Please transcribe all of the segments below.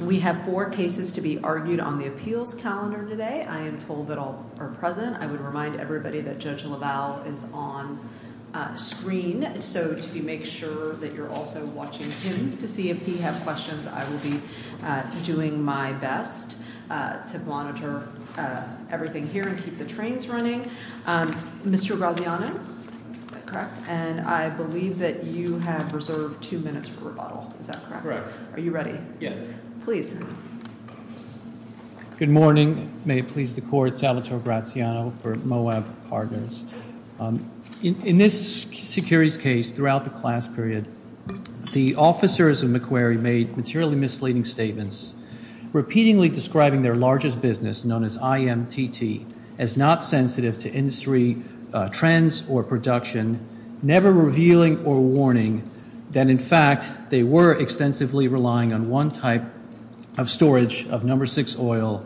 We have four cases to be argued on the appeals calendar today. I am told that all are present. I would remind everybody that Judge LaValle is on screen. So to make sure that you're also watching him to see if he has questions, I will be doing my best to monitor everything here and keep the trains running. Mr. Graziano, is that correct? And I believe that you have reserved two minutes for rebuttal. Is that correct? Correct. Are you ready? Yes. Please. Good morning. May it please the court, Salvatore Graziano for Moab Cargoes. In this securities case, throughout the class period, the officers of Macquarie made materially misleading statements, repeatedly describing their largest business known as IMTT as not sensitive to industry trends or production, never revealing or warning that, in fact, they were extensively relying on one type of storage of number six oil,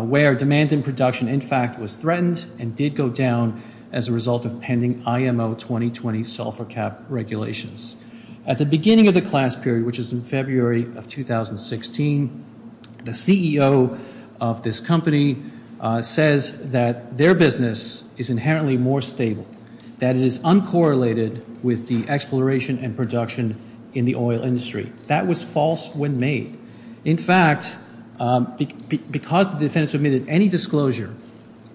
where demand and production, in fact, was threatened and did go down as a result of pending IMO 2020 sulfur cap regulations. At the beginning of the class period, which is in February of 2016, the CEO of this company says that their business is inherently more stable, that it is uncorrelated with the exploration and production in the oil industry. That was false when made. In fact, because the defendants admitted any disclosure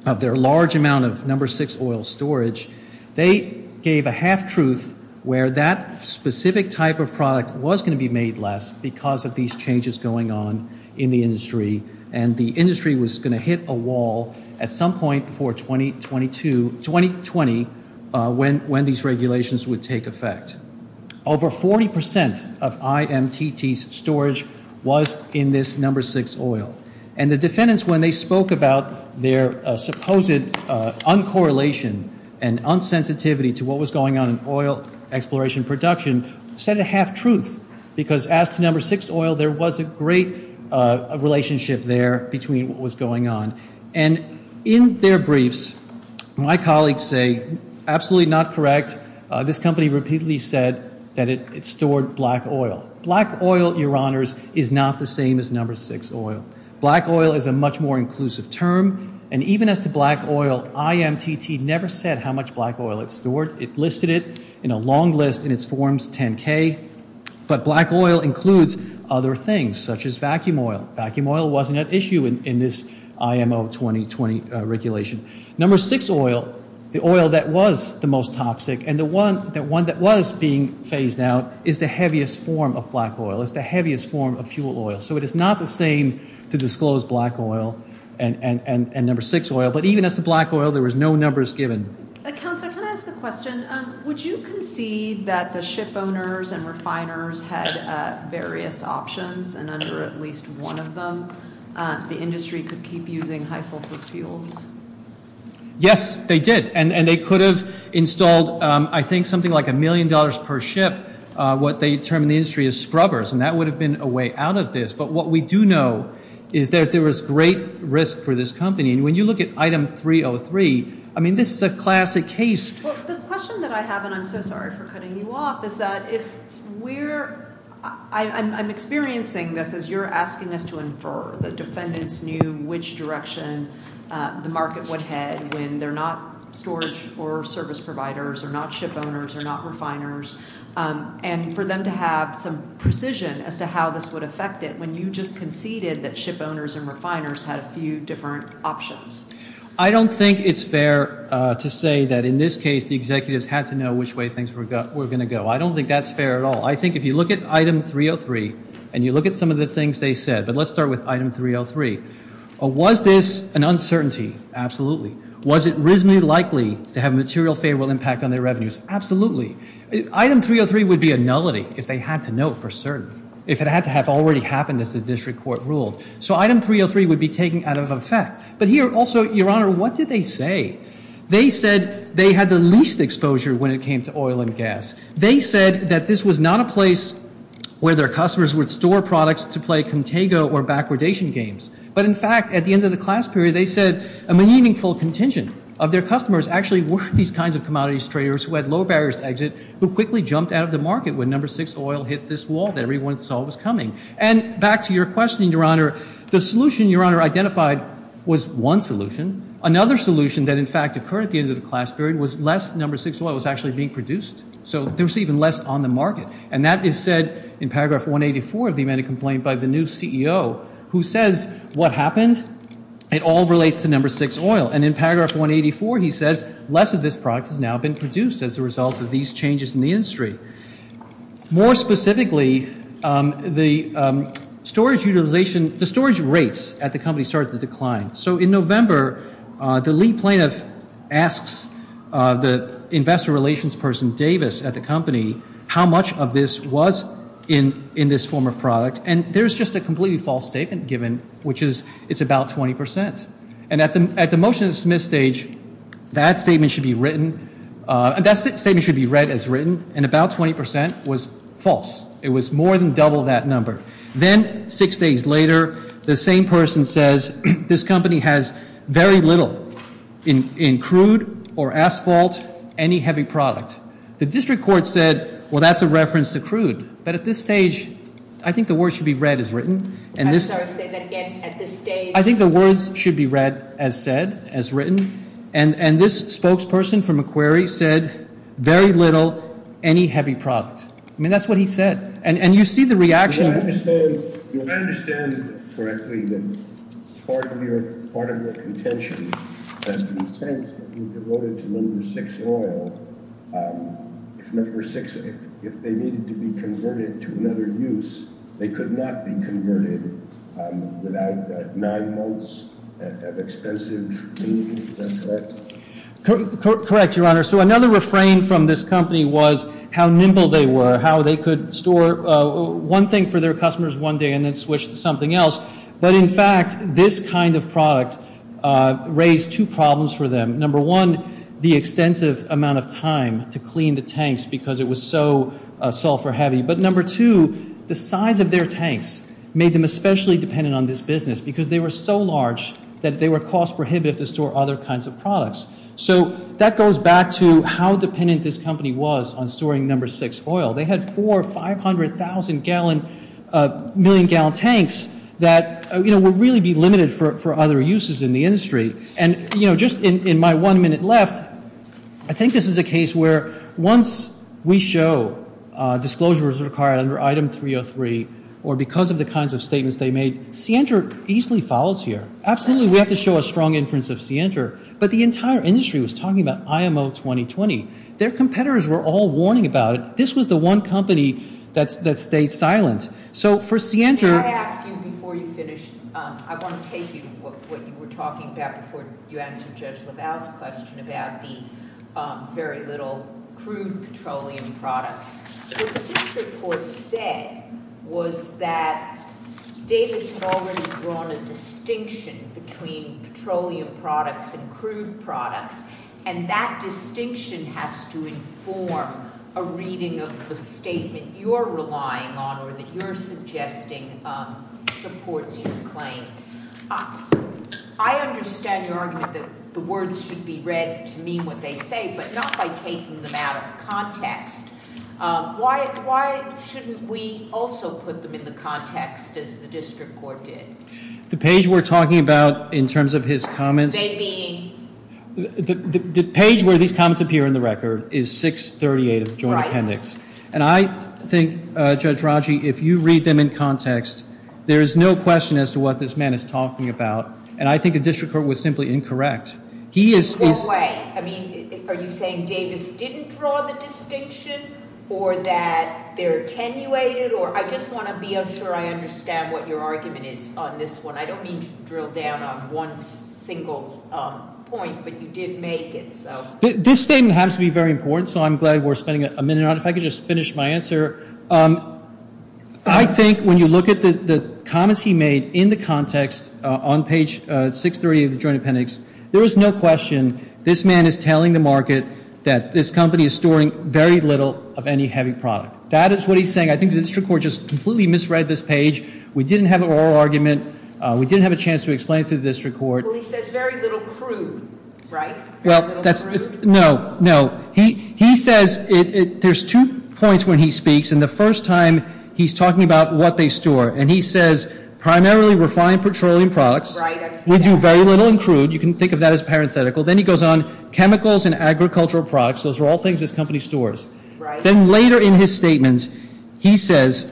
of their large amount of number six oil storage, they gave a half-truth where that specific type of product was going to be made less because of these changes going on in the industry, and the industry was going to hit a wall at some point before 2020 when these regulations would take effect. Over 40% of IMTT's storage was in this number six oil. And the defendants, when they spoke about their supposed uncorrelation and unsensitivity to what was going on in oil exploration and production, said a half-truth because, as to number six oil, there was a great relationship there between what was going on. And in their briefs, my colleagues say, absolutely not correct. This company repeatedly said that it stored black oil. Black oil, Your Honors, is not the same as number six oil. Black oil is a much more inclusive term, and even as to black oil, IMTT never said how much black oil it stored. It listed it in a long list in its forms, 10K, but black oil includes other things, such as vacuum oil. Vacuum oil wasn't at issue in this IMO 2020 regulation. Number six oil, the oil that was the most toxic and the one that was being phased out, is the heaviest form of black oil. It's the heaviest form of fuel oil. So it is not the same to disclose black oil and number six oil, but even as to black oil, there was no numbers given. Counselor, can I ask a question? Would you concede that the ship owners and refiners had various options and under at least one of them, the industry could keep using high sulfur fuels? Yes, they did, and they could have installed, I think, something like a million dollars per ship. What they term in the industry is scrubbers, and that would have been a way out of this. But what we do know is that there was great risk for this company. When you look at item 303, I mean, this is a classic case. Well, the question that I have, and I'm so sorry for cutting you off, is that if we're, I'm experiencing this as you're asking us to infer that defendants knew which direction the market would head when they're not storage or service providers, or not ship owners, or not refiners, and for them to have some precision as to how this would affect it. When you just conceded that ship owners and refiners had a few different options. I don't think it's fair to say that in this case the executives had to know which way things were going to go. I don't think that's fair at all. I think if you look at item 303 and you look at some of the things they said, but let's start with item 303. Was this an uncertainty? Absolutely. Was it reasonably likely to have material favorable impact on their revenues? Absolutely. Item 303 would be a nullity if they had to know for certain. If it had to have already happened as the district court ruled. So item 303 would be taken out of effect. But here also, Your Honor, what did they say? They said they had the least exposure when it came to oil and gas. They said that this was not a place where their customers would store products to play contigo or backwardation games. But in fact, at the end of the class period, they said a meaningful contingent of their customers actually were these kinds of commodities traders who had low barriers to exit, who quickly jumped out of the market when No. 6 oil hit this wall that everyone saw was coming. And back to your question, Your Honor, the solution Your Honor identified was one solution. Another solution that in fact occurred at the end of the class period was less No. 6 oil was actually being produced. So there was even less on the market. And that is said in paragraph 184 of the amended complaint by the new CEO who says what happened, it all relates to No. 6 oil. And in paragraph 184, he says less of this product has now been produced as a result of these changes in the industry. More specifically, the storage utilization, the storage rates at the company started to decline. So in November, the lead plaintiff asks the investor relations person Davis at the company how much of this was in this form of product. And there's just a completely false statement given, which is it's about 20%. And at the motion to submit stage, that statement should be written. That statement should be read as written, and about 20% was false. It was more than double that number. Then six days later, the same person says this company has very little in crude or asphalt, any heavy product. The district court said, well, that's a reference to crude. But at this stage, I think the word should be read as written. I'm sorry to say that again. At this stage. I think the words should be read as said, as written. And this spokesperson from Macquarie said very little, any heavy product. I mean, that's what he said. And you see the reaction. I understand correctly that part of your part of your contention that you devoted to number six oil number six. If they needed to be converted to another use, they could not be converted without nine months of expensive. Correct, Your Honor. So another refrain from this company was how nimble they were, how they could store. One thing for their customers one day and then switch to something else. But in fact, this kind of product raised two problems for them. Number one, the extensive amount of time to clean the tanks because it was so sulfur heavy. But number two, the size of their tanks made them especially dependent on this business because they were so large that they were cost prohibited to store other kinds of products. So that goes back to how dependent this company was on storing number six oil. They had four 500,000 gallon, million gallon tanks that, you know, would really be limited for other uses in the industry. And, you know, just in my one minute left, I think this is a case where once we show disclosures required under Item 303 or because of the kinds of statements they made, Sienter easily follows here. Absolutely, we have to show a strong inference of Sienter. But the entire industry was talking about IMO 2020. Their competitors were all warning about it. This was the one company that stayed silent. So for Sienter- May I ask you before you finish? I want to take what you were talking about before you answer Judge LaValle's question about the very little crude petroleum products. What this report said was that Davis had already drawn a distinction between petroleum products and crude products. And that distinction has to inform a reading of the statement you're relying on or that you're suggesting supports your claim. I understand your argument that the words should be read to mean what they say, but not by taking them out of context. Why shouldn't we also put them in the context as the district court did? The page we're talking about in terms of his comments- They mean- The page where these comments appear in the record is 638 of the joint appendix. Right. And I think, Judge Raji, if you read them in context, there is no question as to what this man is talking about. And I think the district court was simply incorrect. He is- No way. I mean, are you saying Davis didn't draw the distinction or that they're attenuated? I just want to be sure I understand what your argument is on this one. I don't mean to drill down on one single point, but you did make it. This statement happens to be very important, so I'm glad we're spending a minute on it. If I could just finish my answer, I think when you look at the comments he made in the context on page 638 of the joint appendix, there is no question this man is telling the market that this company is storing very little of any heavy product. That is what he's saying. I think the district court just completely misread this page. We didn't have an oral argument. We didn't have a chance to explain it to the district court. Well, he says very little crude, right? No, no. He says there's two points when he speaks, and the first time he's talking about what they store, and he says primarily refined petroleum products. Right. We do very little in crude. You can think of that as parenthetical. Then he goes on. Chemicals and agricultural products, those are all things this company stores. Right. Then later in his statement, he says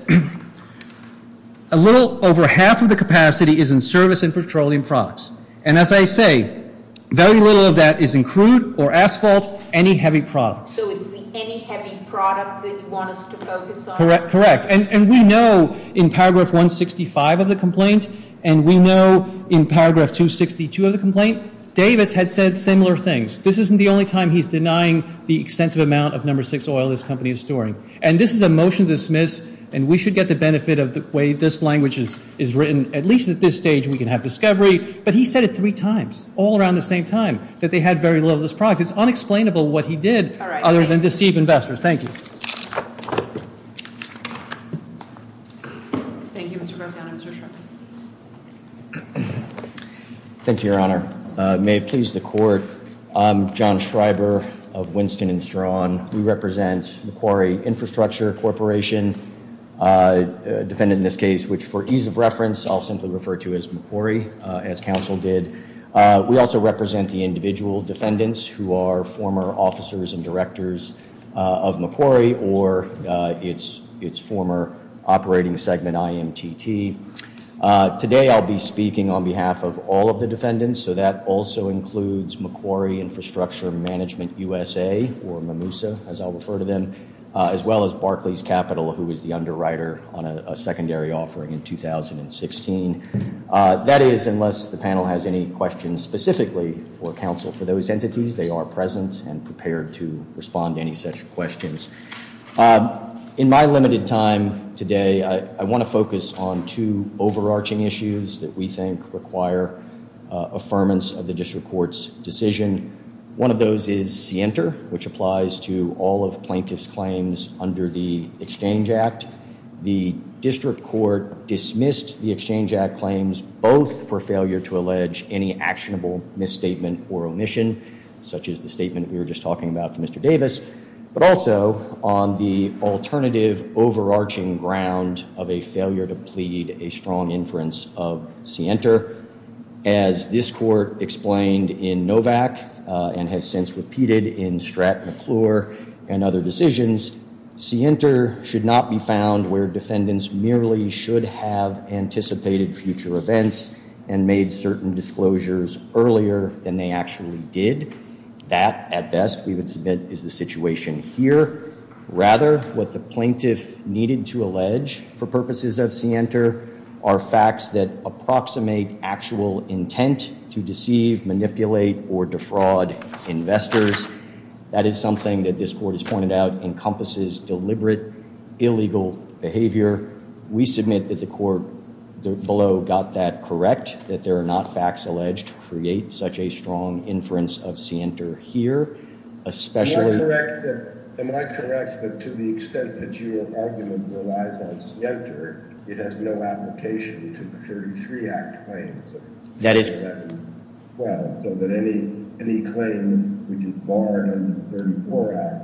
a little over half of the capacity is in service and petroleum products, and as I say, very little of that is in crude or asphalt, any heavy product. So it's the any heavy product that you want us to focus on? Correct. And we know in paragraph 165 of the complaint, and we know in paragraph 262 of the complaint, Davis had said similar things. This isn't the only time he's denying the extensive amount of number six oil this company is storing, and this is a motion to dismiss, and we should get the benefit of the way this language is written. At least at this stage we can have discovery. But he said it three times, all around the same time, that they had very little of this product. It's unexplainable what he did other than deceive investors. Thank you. Thank you, Mr. Garziano. Mr. Schreiber. Thank you, Your Honor. May it please the Court, I'm John Schreiber of Winston & Strachan. We represent Macquarie Infrastructure Corporation, a defendant in this case, which for ease of reference I'll simply refer to as Macquarie, as counsel did. We also represent the individual defendants who are former officers and directors of Macquarie or its former operating segment IMTT. Today I'll be speaking on behalf of all of the defendants, so that also includes Macquarie Infrastructure Management USA, or MIMUSA, as I'll refer to them, as well as Barclays Capital, who was the underwriter on a secondary offering in 2016. That is, unless the panel has any questions specifically for counsel for those entities, they are present and prepared to respond to any such questions. In my limited time today, I want to focus on two overarching issues that we think require affirmance of the district court's decision. One of those is scienter, which applies to all of plaintiff's claims under the Exchange Act. The district court dismissed the Exchange Act claims both for failure to allege any actionable misstatement or omission, such as the statement we were just talking about from Mr. Davis, but also on the alternative overarching ground of a failure to plead a strong inference of scienter. As this court explained in Novak and has since repeated in Stratton McClure and other decisions, scienter should not be found where defendants merely should have anticipated future events and made certain disclosures earlier than they actually did. That, at best, we would submit is the situation here. Rather, what the plaintiff needed to allege for purposes of scienter are facts that approximate actual intent to deceive, manipulate, or defraud investors. That is something that this court has pointed out encompasses deliberate illegal behavior. We submit that the court below got that correct, that there are not facts alleged to create such a strong inference of scienter here. Am I correct that to the extent that your argument relies on scienter, it has no application to the 33 Act claims? Well, so that any claim which is barred under the 34 Act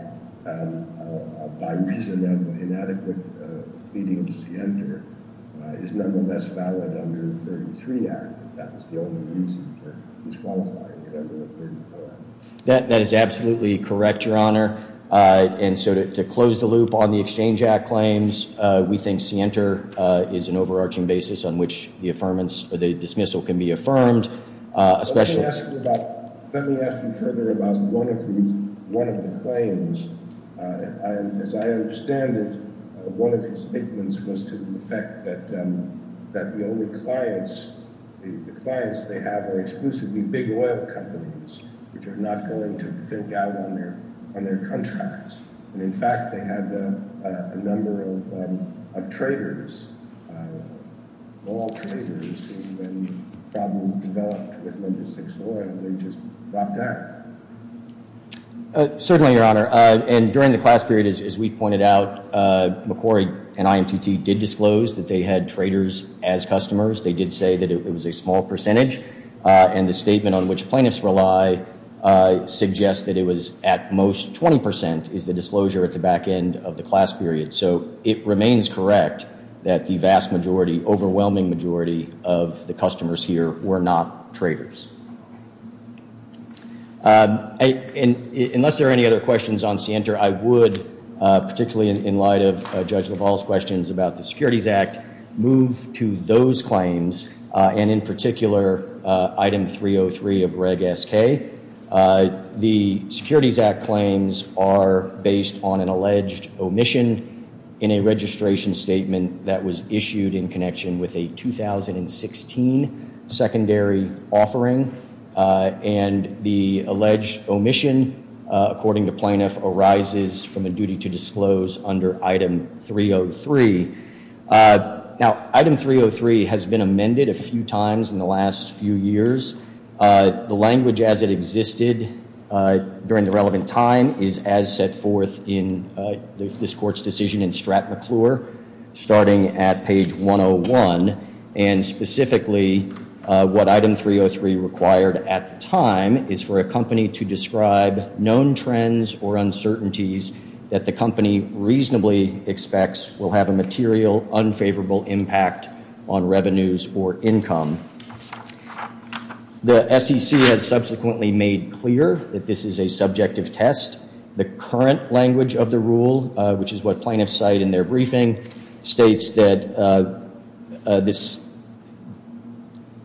by reason of inadequate pleading of scienter is nonetheless valid under the 33 Act. That is the only reason for disqualifying it under the 34 Act. That is absolutely correct, Your Honor. And so to close the loop on the Exchange Act claims, we think scienter is an overarching basis on which the dismissal can be affirmed. Let me ask you further about one of the claims. As I understand it, one of his statements was to the effect that the only clients they have are exclusively big oil companies which are not going to think out on their contracts. And in fact, they had a number of traders, oil traders, who when problems developed with Linda Six Oil, they just dropped out. Certainly, Your Honor. And during the class period, as we pointed out, McCrory and IMTT did disclose that they had traders as customers. They did say that it was a small percentage. And the statement on which plaintiffs rely suggests that it was at most 20% is the disclosure at the back end of the class period. So it remains correct that the vast majority, overwhelming majority of the customers here were not traders. Unless there are any other questions on scienter, I would, particularly in light of Judge LaValle's questions about the Securities Act, move to those claims. And in particular, Item 303 of Reg S.K. The Securities Act claims are based on an alleged omission in a registration statement that was issued in connection with a 2016 secondary offering. And the alleged omission, according to plaintiff, arises from a duty to disclose under Item 303. Now, Item 303 has been amended a few times in the last few years. The language as it existed during the relevant time is as set forth in this court's decision in Strat McClure, starting at page 101. And specifically, what Item 303 required at the time is for a company to describe known trends or uncertainties that the company reasonably expects will have a material, unfavorable impact on revenues or income. The SEC has subsequently made clear that this is a subjective test. The current language of the rule, which is what plaintiffs cite in their briefing, states that this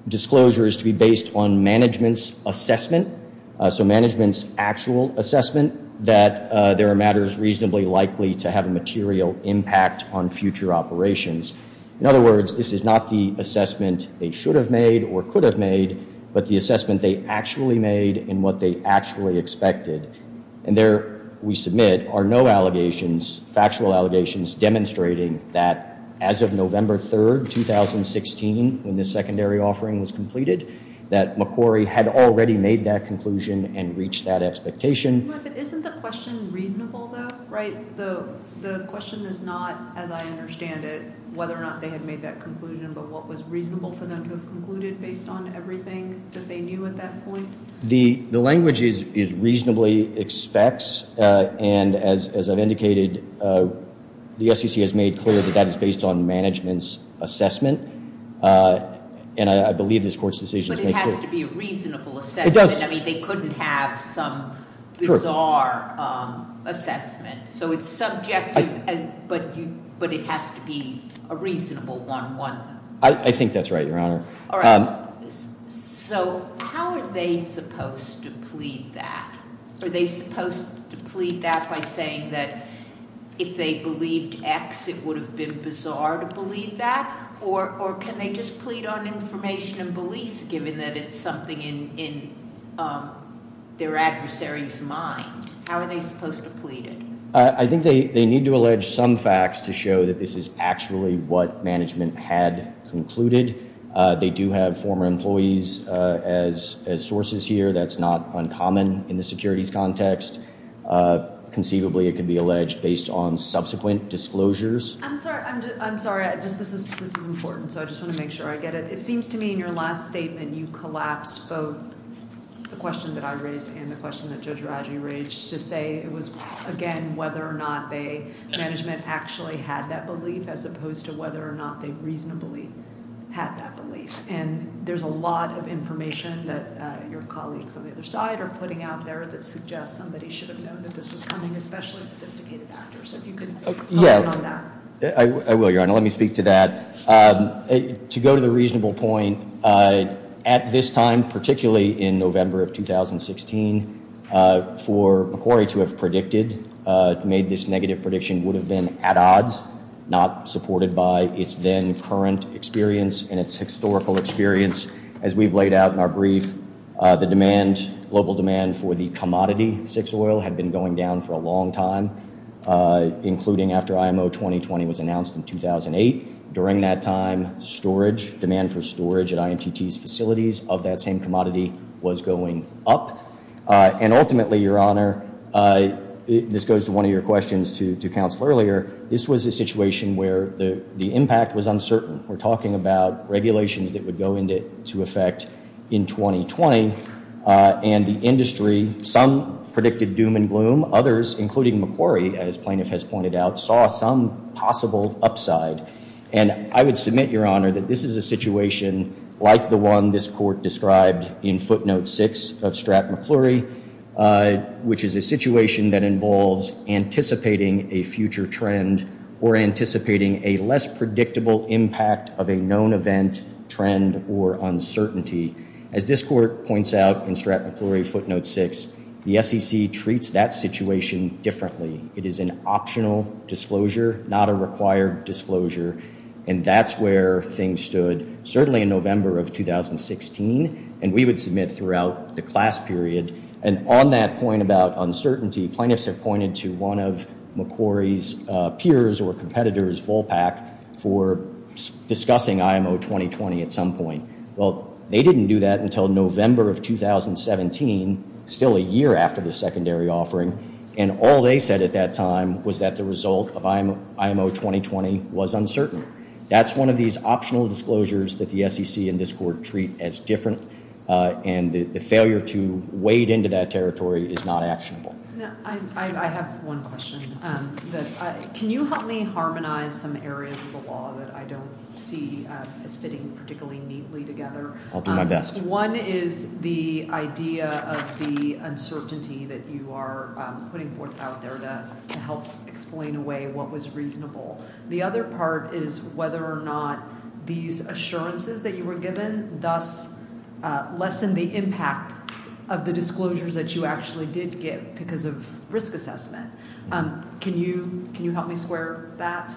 disclosure is to be based on management's assessment. So management's actual assessment that there are matters reasonably likely to have a material impact on future operations. In other words, this is not the assessment they should have made or could have made, but the assessment they actually made and what they actually expected. And there, we submit, are no allegations, factual allegations, demonstrating that as of November 3rd, 2016, when this secondary offering was completed, that McCrory had already made that conclusion and reached that expectation. But isn't the question reasonable, though, right? The question is not, as I understand it, whether or not they had made that conclusion, but what was reasonable for them to have concluded based on everything that they knew at that point? The language is reasonably expects, and as I've indicated, the SEC has made clear that that is based on management's assessment. And I believe this court's decision has made clear- But it has to be a reasonable assessment. It does. I mean, they couldn't have some bizarre assessment. So it's subjective, but it has to be a reasonable one. I think that's right, Your Honor. All right. So how are they supposed to plead that? Are they supposed to plead that by saying that if they believed X, it would have been bizarre to believe that? Or can they just plead on information and belief, given that it's something in their adversary's mind? How are they supposed to plead it? I think they need to allege some facts to show that this is actually what management had concluded. They do have former employees as sources here. That's not uncommon in the securities context. Conceivably, it could be alleged based on subsequent disclosures. I'm sorry. I'm sorry. This is important, so I just want to make sure I get it. It seems to me in your last statement you collapsed both the question that I raised and the question that Judge Raggi raised to say it was, again, whether or not management actually had that belief as opposed to whether or not they reasonably had that belief. And there's a lot of information that your colleagues on the other side are putting out there that suggests somebody should have known that this was coming, especially sophisticated actors. So if you could comment on that. I will, Your Honor. Let me speak to that. To go to the reasonable point, at this time, particularly in November of 2016, for Macquarie to have predicted, made this negative prediction would have been at odds, not supported by its then current experience and its historical experience. As we've laid out in our brief, the demand, global demand for the commodity six oil had been going down for a long time, including after IMO 2020 was announced in 2008. During that time, storage, demand for storage at IMTT's facilities of that same commodity was going up. And ultimately, Your Honor, this goes to one of your questions to counsel earlier, this was a situation where the impact was uncertain. We're talking about regulations that would go into effect in 2020. And the industry, some predicted doom and gloom. Others, including Macquarie, as plaintiff has pointed out, saw some possible upside. And I would submit, Your Honor, that this is a situation like the one this court described in footnote six of Stratt Macquarie, which is a situation that involves anticipating a future trend or anticipating a less predictable impact of a known event, trend or uncertainty. As this court points out in Stratt Macquarie footnote six, the SEC treats that situation differently. It is an optional disclosure, not a required disclosure. And that's where things stood, certainly in November of 2016. And we would submit throughout the class period. And on that point about uncertainty, plaintiffs have pointed to one of Macquarie's peers or competitors, Volpac, for discussing IMO 2020 at some point. Well, they didn't do that until November of 2017, still a year after the secondary offering. And all they said at that time was that the result of IMO 2020 was uncertain. That's one of these optional disclosures that the SEC and this court treat as different. And the failure to wade into that territory is not actionable. I have one question. Can you help me harmonize some areas of the law that I don't see as fitting particularly neatly together? I'll do my best. One is the idea of the uncertainty that you are putting forth out there to help explain away what was reasonable. The other part is whether or not these assurances that you were given thus lessen the impact of the disclosures that you actually did give because of risk assessment. Can you help me square that?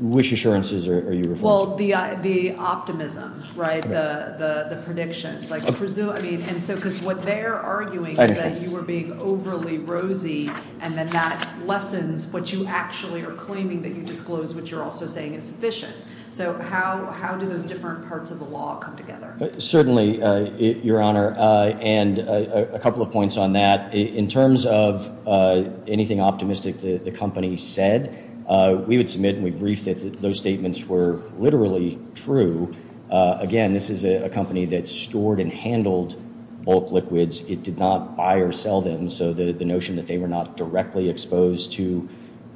Which assurances are you referring to? Well, the optimism, right, the predictions. Because what they're arguing is that you were being overly rosy, and then that lessens what you actually are claiming, that you disclose what you're also saying is sufficient. So how do those different parts of the law come together? Certainly, Your Honor. And a couple of points on that. In terms of anything optimistic the company said, we would submit and we'd brief that those statements were literally true. Again, this is a company that stored and handled bulk liquids. It did not buy or sell them, so the notion that they were not directly exposed to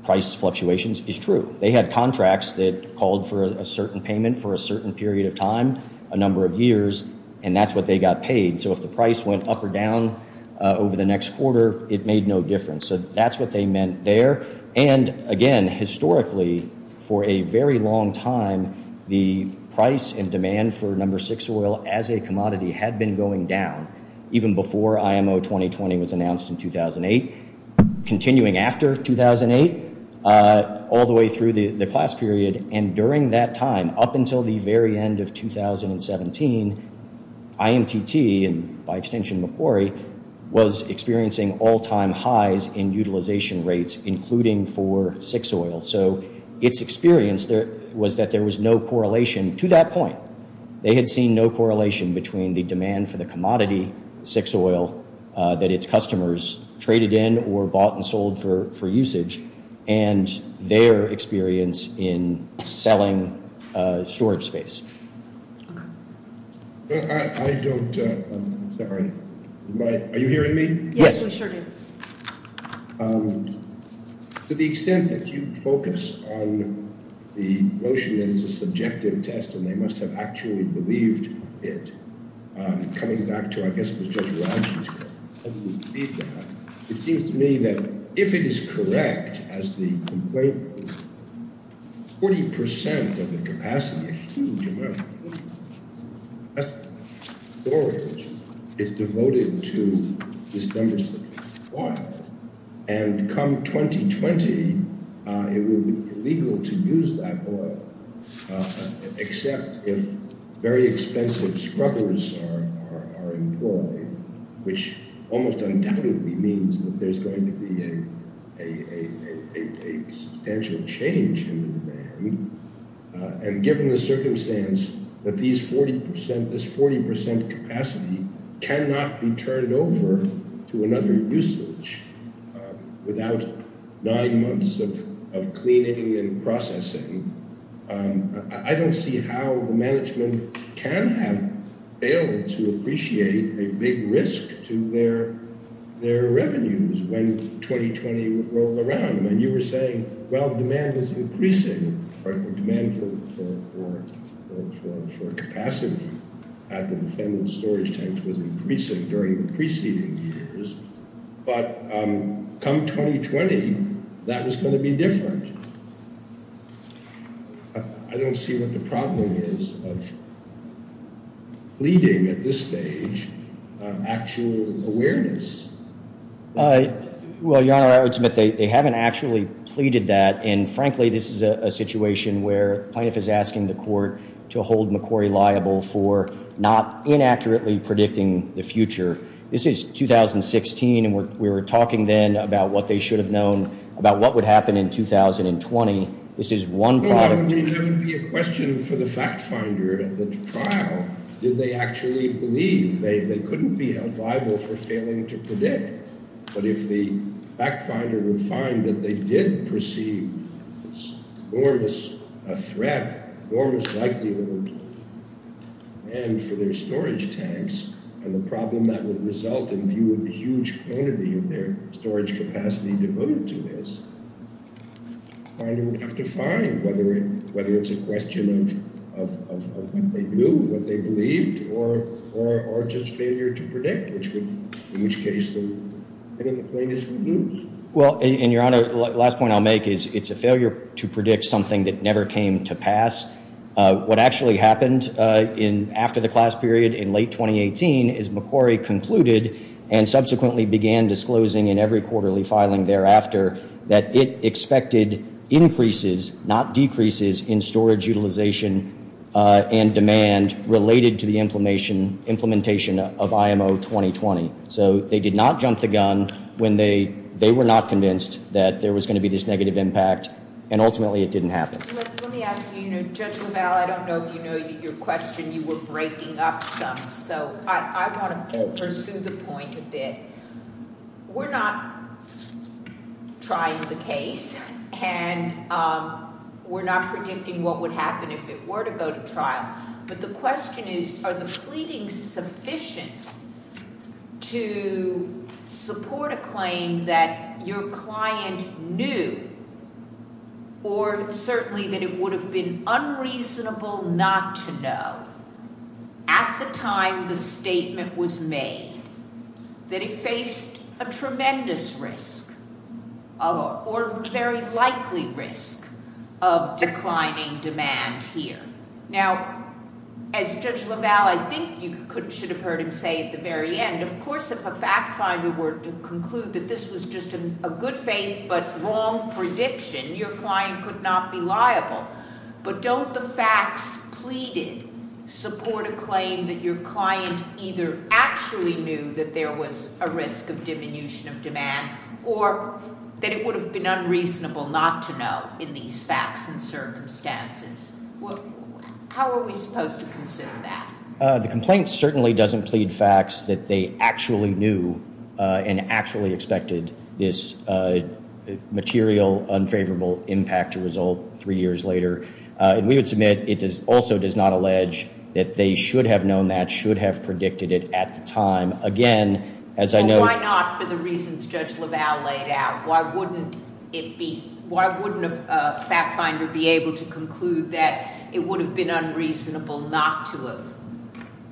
price fluctuations is true. They had contracts that called for a certain payment for a certain period of time, a number of years, and that's what they got paid. So if the price went up or down over the next quarter, it made no difference. So that's what they meant there. And, again, historically, for a very long time, the price and demand for No. 6 oil as a commodity had been going down, even before IMO 2020 was announced in 2008, continuing after 2008, all the way through the class period. And during that time, up until the very end of 2017, IMTT, and by extension, McQuarrie, was experiencing all-time highs in utilization rates, including for 6 oil. So its experience was that there was no correlation to that point. They had seen no correlation between the demand for the commodity 6 oil that its customers traded in or bought and sold for usage and their experience in selling storage space. Okay. I don't—I'm sorry. Are you hearing me? Yes, we sure do. To the extent that you focus on the notion that it's a subjective test and they must have actually believed it, coming back to, I guess, what Judge Rogers said, how do we believe that? It seems to me that if it is correct, as the complaint was, 40 percent of the capacity, a huge amount of storage, is devoted to this number 6 oil, and come 2020, it will be illegal to use that oil, except if very expensive scrubbers are employed, which almost undoubtedly means that there's going to be a substantial change in the demand. And given the circumstance that these 40 percent, this 40 percent capacity cannot be turned over to another usage without nine months of cleaning and processing, I don't see how the management can have failed to appreciate a big risk to their revenues when 2020 rolls around. And you were saying, well, demand is increasing. Demand for capacity at the defendable storage tanks was increasing during the preceding years, but come 2020, that is going to be different. I don't see what the problem is of leading at this stage actual awareness. Well, Your Honor, I would submit they haven't actually pleaded that. And frankly, this is a situation where the plaintiff is asking the court to hold McCrory liable for not inaccurately predicting the future. This is 2016, and we were talking then about what they should have known about what would happen in 2020. This is one product. Well, I mean, that would be a question for the fact finder at the trial. Did they actually believe they couldn't be held liable for failing to predict? But if the fact finder would find that they did perceive this enormous threat, enormous likelihood, and for their storage tanks and the problem that would result in view of the huge quantity of their storage capacity devoted to this, the finder would have to find whether it's a question of what they knew, what they believed, or just failure to predict, in which case the plaintiff would lose. Well, and Your Honor, the last point I'll make is it's a failure to predict something that never came to pass. What actually happened after the class period in late 2018 is McCrory concluded and subsequently began disclosing in every quarterly filing thereafter that it expected increases, not decreases, in storage utilization and demand related to the implementation of IMO 2020. So they did not jump the gun when they were not convinced that there was going to be this negative impact, and ultimately it didn't happen. Let me ask you, Judge LaValle, I don't know if you know your question. You were breaking up some, so I want to pursue the point a bit. We're not trying the case, and we're not predicting what would happen if it were to go to trial, but the question is are the pleadings sufficient to support a claim that your client knew or certainly that it would have been unreasonable not to know at the time the statement was made that it faced a tremendous risk or a very likely risk of declining demand here? Now, as Judge LaValle, I think you should have heard him say at the very end, of course, if a fact finder were to conclude that this was just a good faith but wrong prediction, your client could not be liable. But don't the facts pleaded support a claim that your client either actually knew that there was a risk of diminution of demand or that it would have been unreasonable not to know in these facts and circumstances? How are we supposed to consider that? The complaint certainly doesn't plead facts that they actually knew and actually expected this material, unfavorable impact to result three years later. And we would submit it also does not allege that they should have known that, should have predicted it at the time. Again, as I know... Well, why not for the reasons Judge LaValle laid out? Why wouldn't it be, why wouldn't a fact finder be able to conclude that it would have been unreasonable not to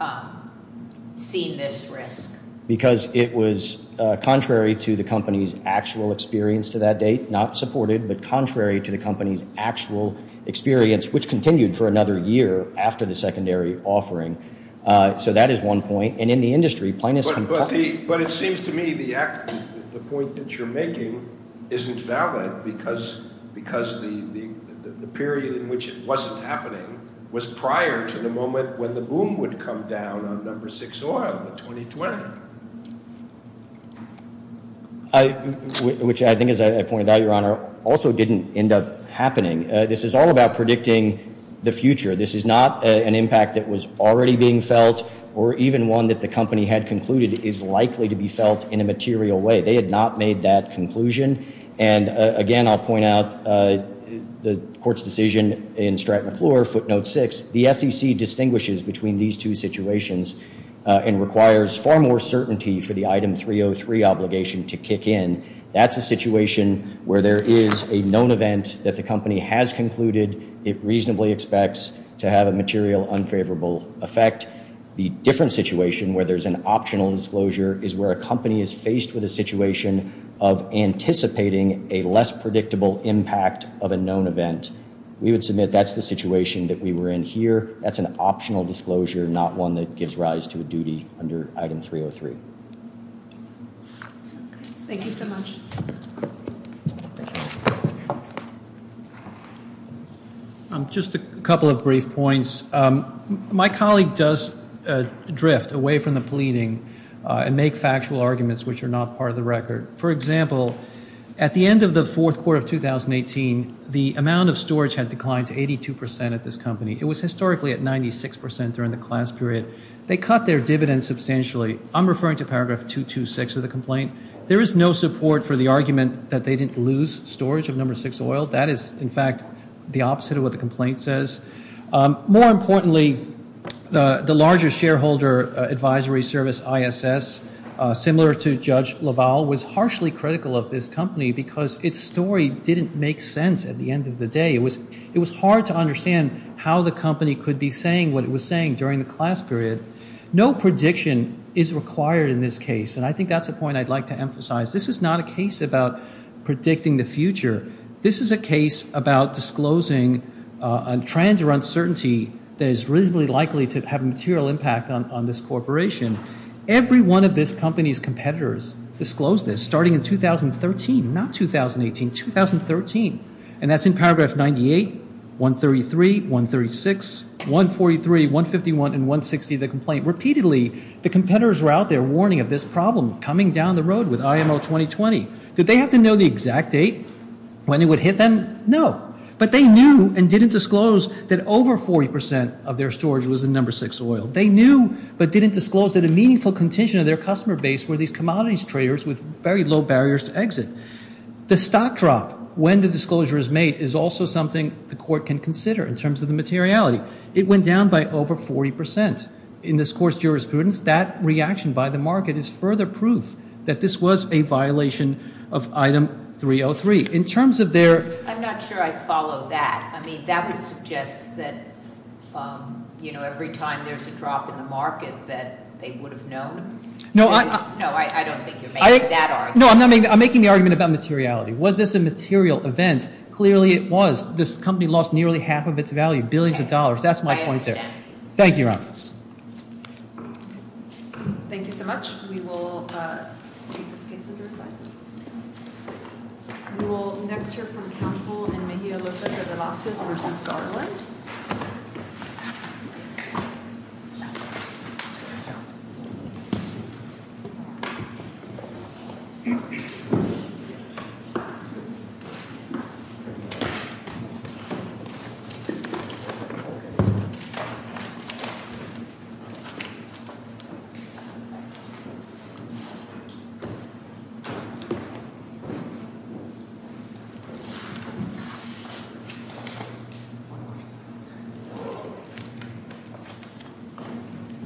have seen this risk? Because it was contrary to the company's actual experience to that date, not supported, but contrary to the company's actual experience, which continued for another year after the secondary offering. So that is one point. And in the industry, plainness can... But it seems to me the point that you're making isn't valid because the period in which it wasn't happening was prior to the moment when the boom would come down on number six oil in 2020. Which I think, as I pointed out, Your Honor, also didn't end up happening. This is all about predicting the future. This is not an impact that was already being felt or even one that the company had concluded is likely to be felt in a material way. They had not made that conclusion. And again, I'll point out the court's decision in Stratton McClure, footnote six. The SEC distinguishes between these two situations and requires far more certainty for the item 303 obligation to kick in. That's a situation where there is a known event that the company has concluded it reasonably expects to have a material unfavorable effect. The different situation where there's an optional disclosure is where a company is faced with a situation of anticipating a less predictable impact of a known event. We would submit that's the situation that we were in here. That's an optional disclosure, not one that gives rise to a duty under item 303. Thank you so much. Just a couple of brief points. My colleague does drift away from the pleading and make factual arguments which are not part of the record. For example, at the end of the fourth quarter of 2018, the amount of storage had declined to 82% at this company. It was historically at 96% during the class period. They cut their dividends substantially. I'm referring to paragraph 226 of the complaint. There is no support for the argument that they didn't lose storage of number six oil. That is, in fact, the opposite of what the complaint says. More importantly, the larger shareholder advisory service ISS, similar to Judge LaValle, was harshly critical of this company because its story didn't make sense at the end of the day. It was hard to understand how the company could be saying what it was saying during the class period. No prediction is required in this case, and I think that's a point I'd like to emphasize. This is not a case about predicting the future. This is a case about disclosing a trend or uncertainty that is reasonably likely to have a material impact on this corporation. Every one of this company's competitors disclosed this starting in 2013, not 2018, 2013. And that's in paragraph 98, 133, 136, 143, 151, and 160 of the complaint. Repeatedly, the competitors were out there warning of this problem coming down the road with IMO 2020. Did they have to know the exact date when it would hit them? No. But they knew and didn't disclose that over 40% of their storage was in number six oil. They knew but didn't disclose that a meaningful contingent of their customer base were these commodities traders with very low barriers to exit. The stock drop when the disclosure is made is also something the court can consider in terms of the materiality. It went down by over 40% in this court's jurisprudence. That reaction by the market is further proof that this was a violation of item 303. In terms of their- I'm not sure I follow that. I mean, that would suggest that, you know, every time there's a drop in the market that they would have known. No, I- No, I don't think you're making that argument. No, I'm making the argument about materiality. Was this a material event? Clearly it was. This company lost nearly half of its value, billions of dollars. That's my point there. I understand. Thank you, Your Honor. Thank you so much. We will take this case under advisement. We will next hear from counsel in Mejia Lopez Velazquez v. Garland. Thank you.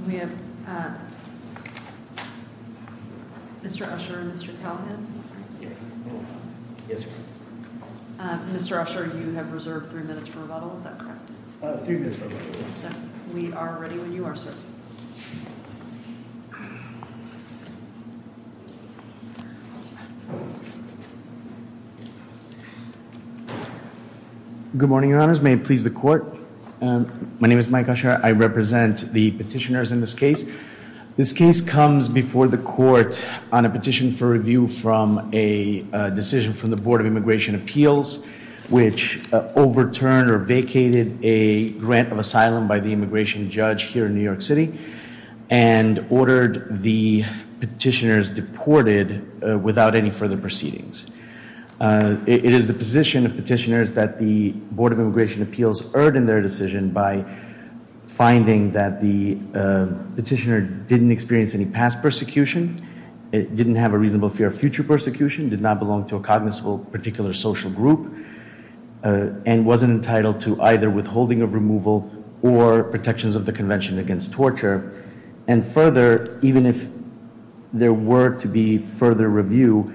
We have Mr. Usher and Mr. Calhoun. Mr. Usher, you have reserved three minutes for rebuttal. Is that correct? Three minutes for rebuttal. We are ready when you are, sir. Good morning, Your Honors. May it please the Court. My name is Mike Usher. I represent the petitioners in this case. This case comes before the Court on a petition for review from a decision from the Board of Immigration Appeals, which overturned or vacated a grant of asylum by the immigration judge here in New York City and ordered the petitioners deported without any further proceedings. It is the position of petitioners that the Board of Immigration Appeals erred in their decision by finding that the petitioner didn't experience any past persecution, didn't have a reasonable fear of future persecution, did not belong to a cognizant particular social group, and wasn't entitled to either withholding of removal or protections of the Convention Against Torture. And further, even if there were to be further review,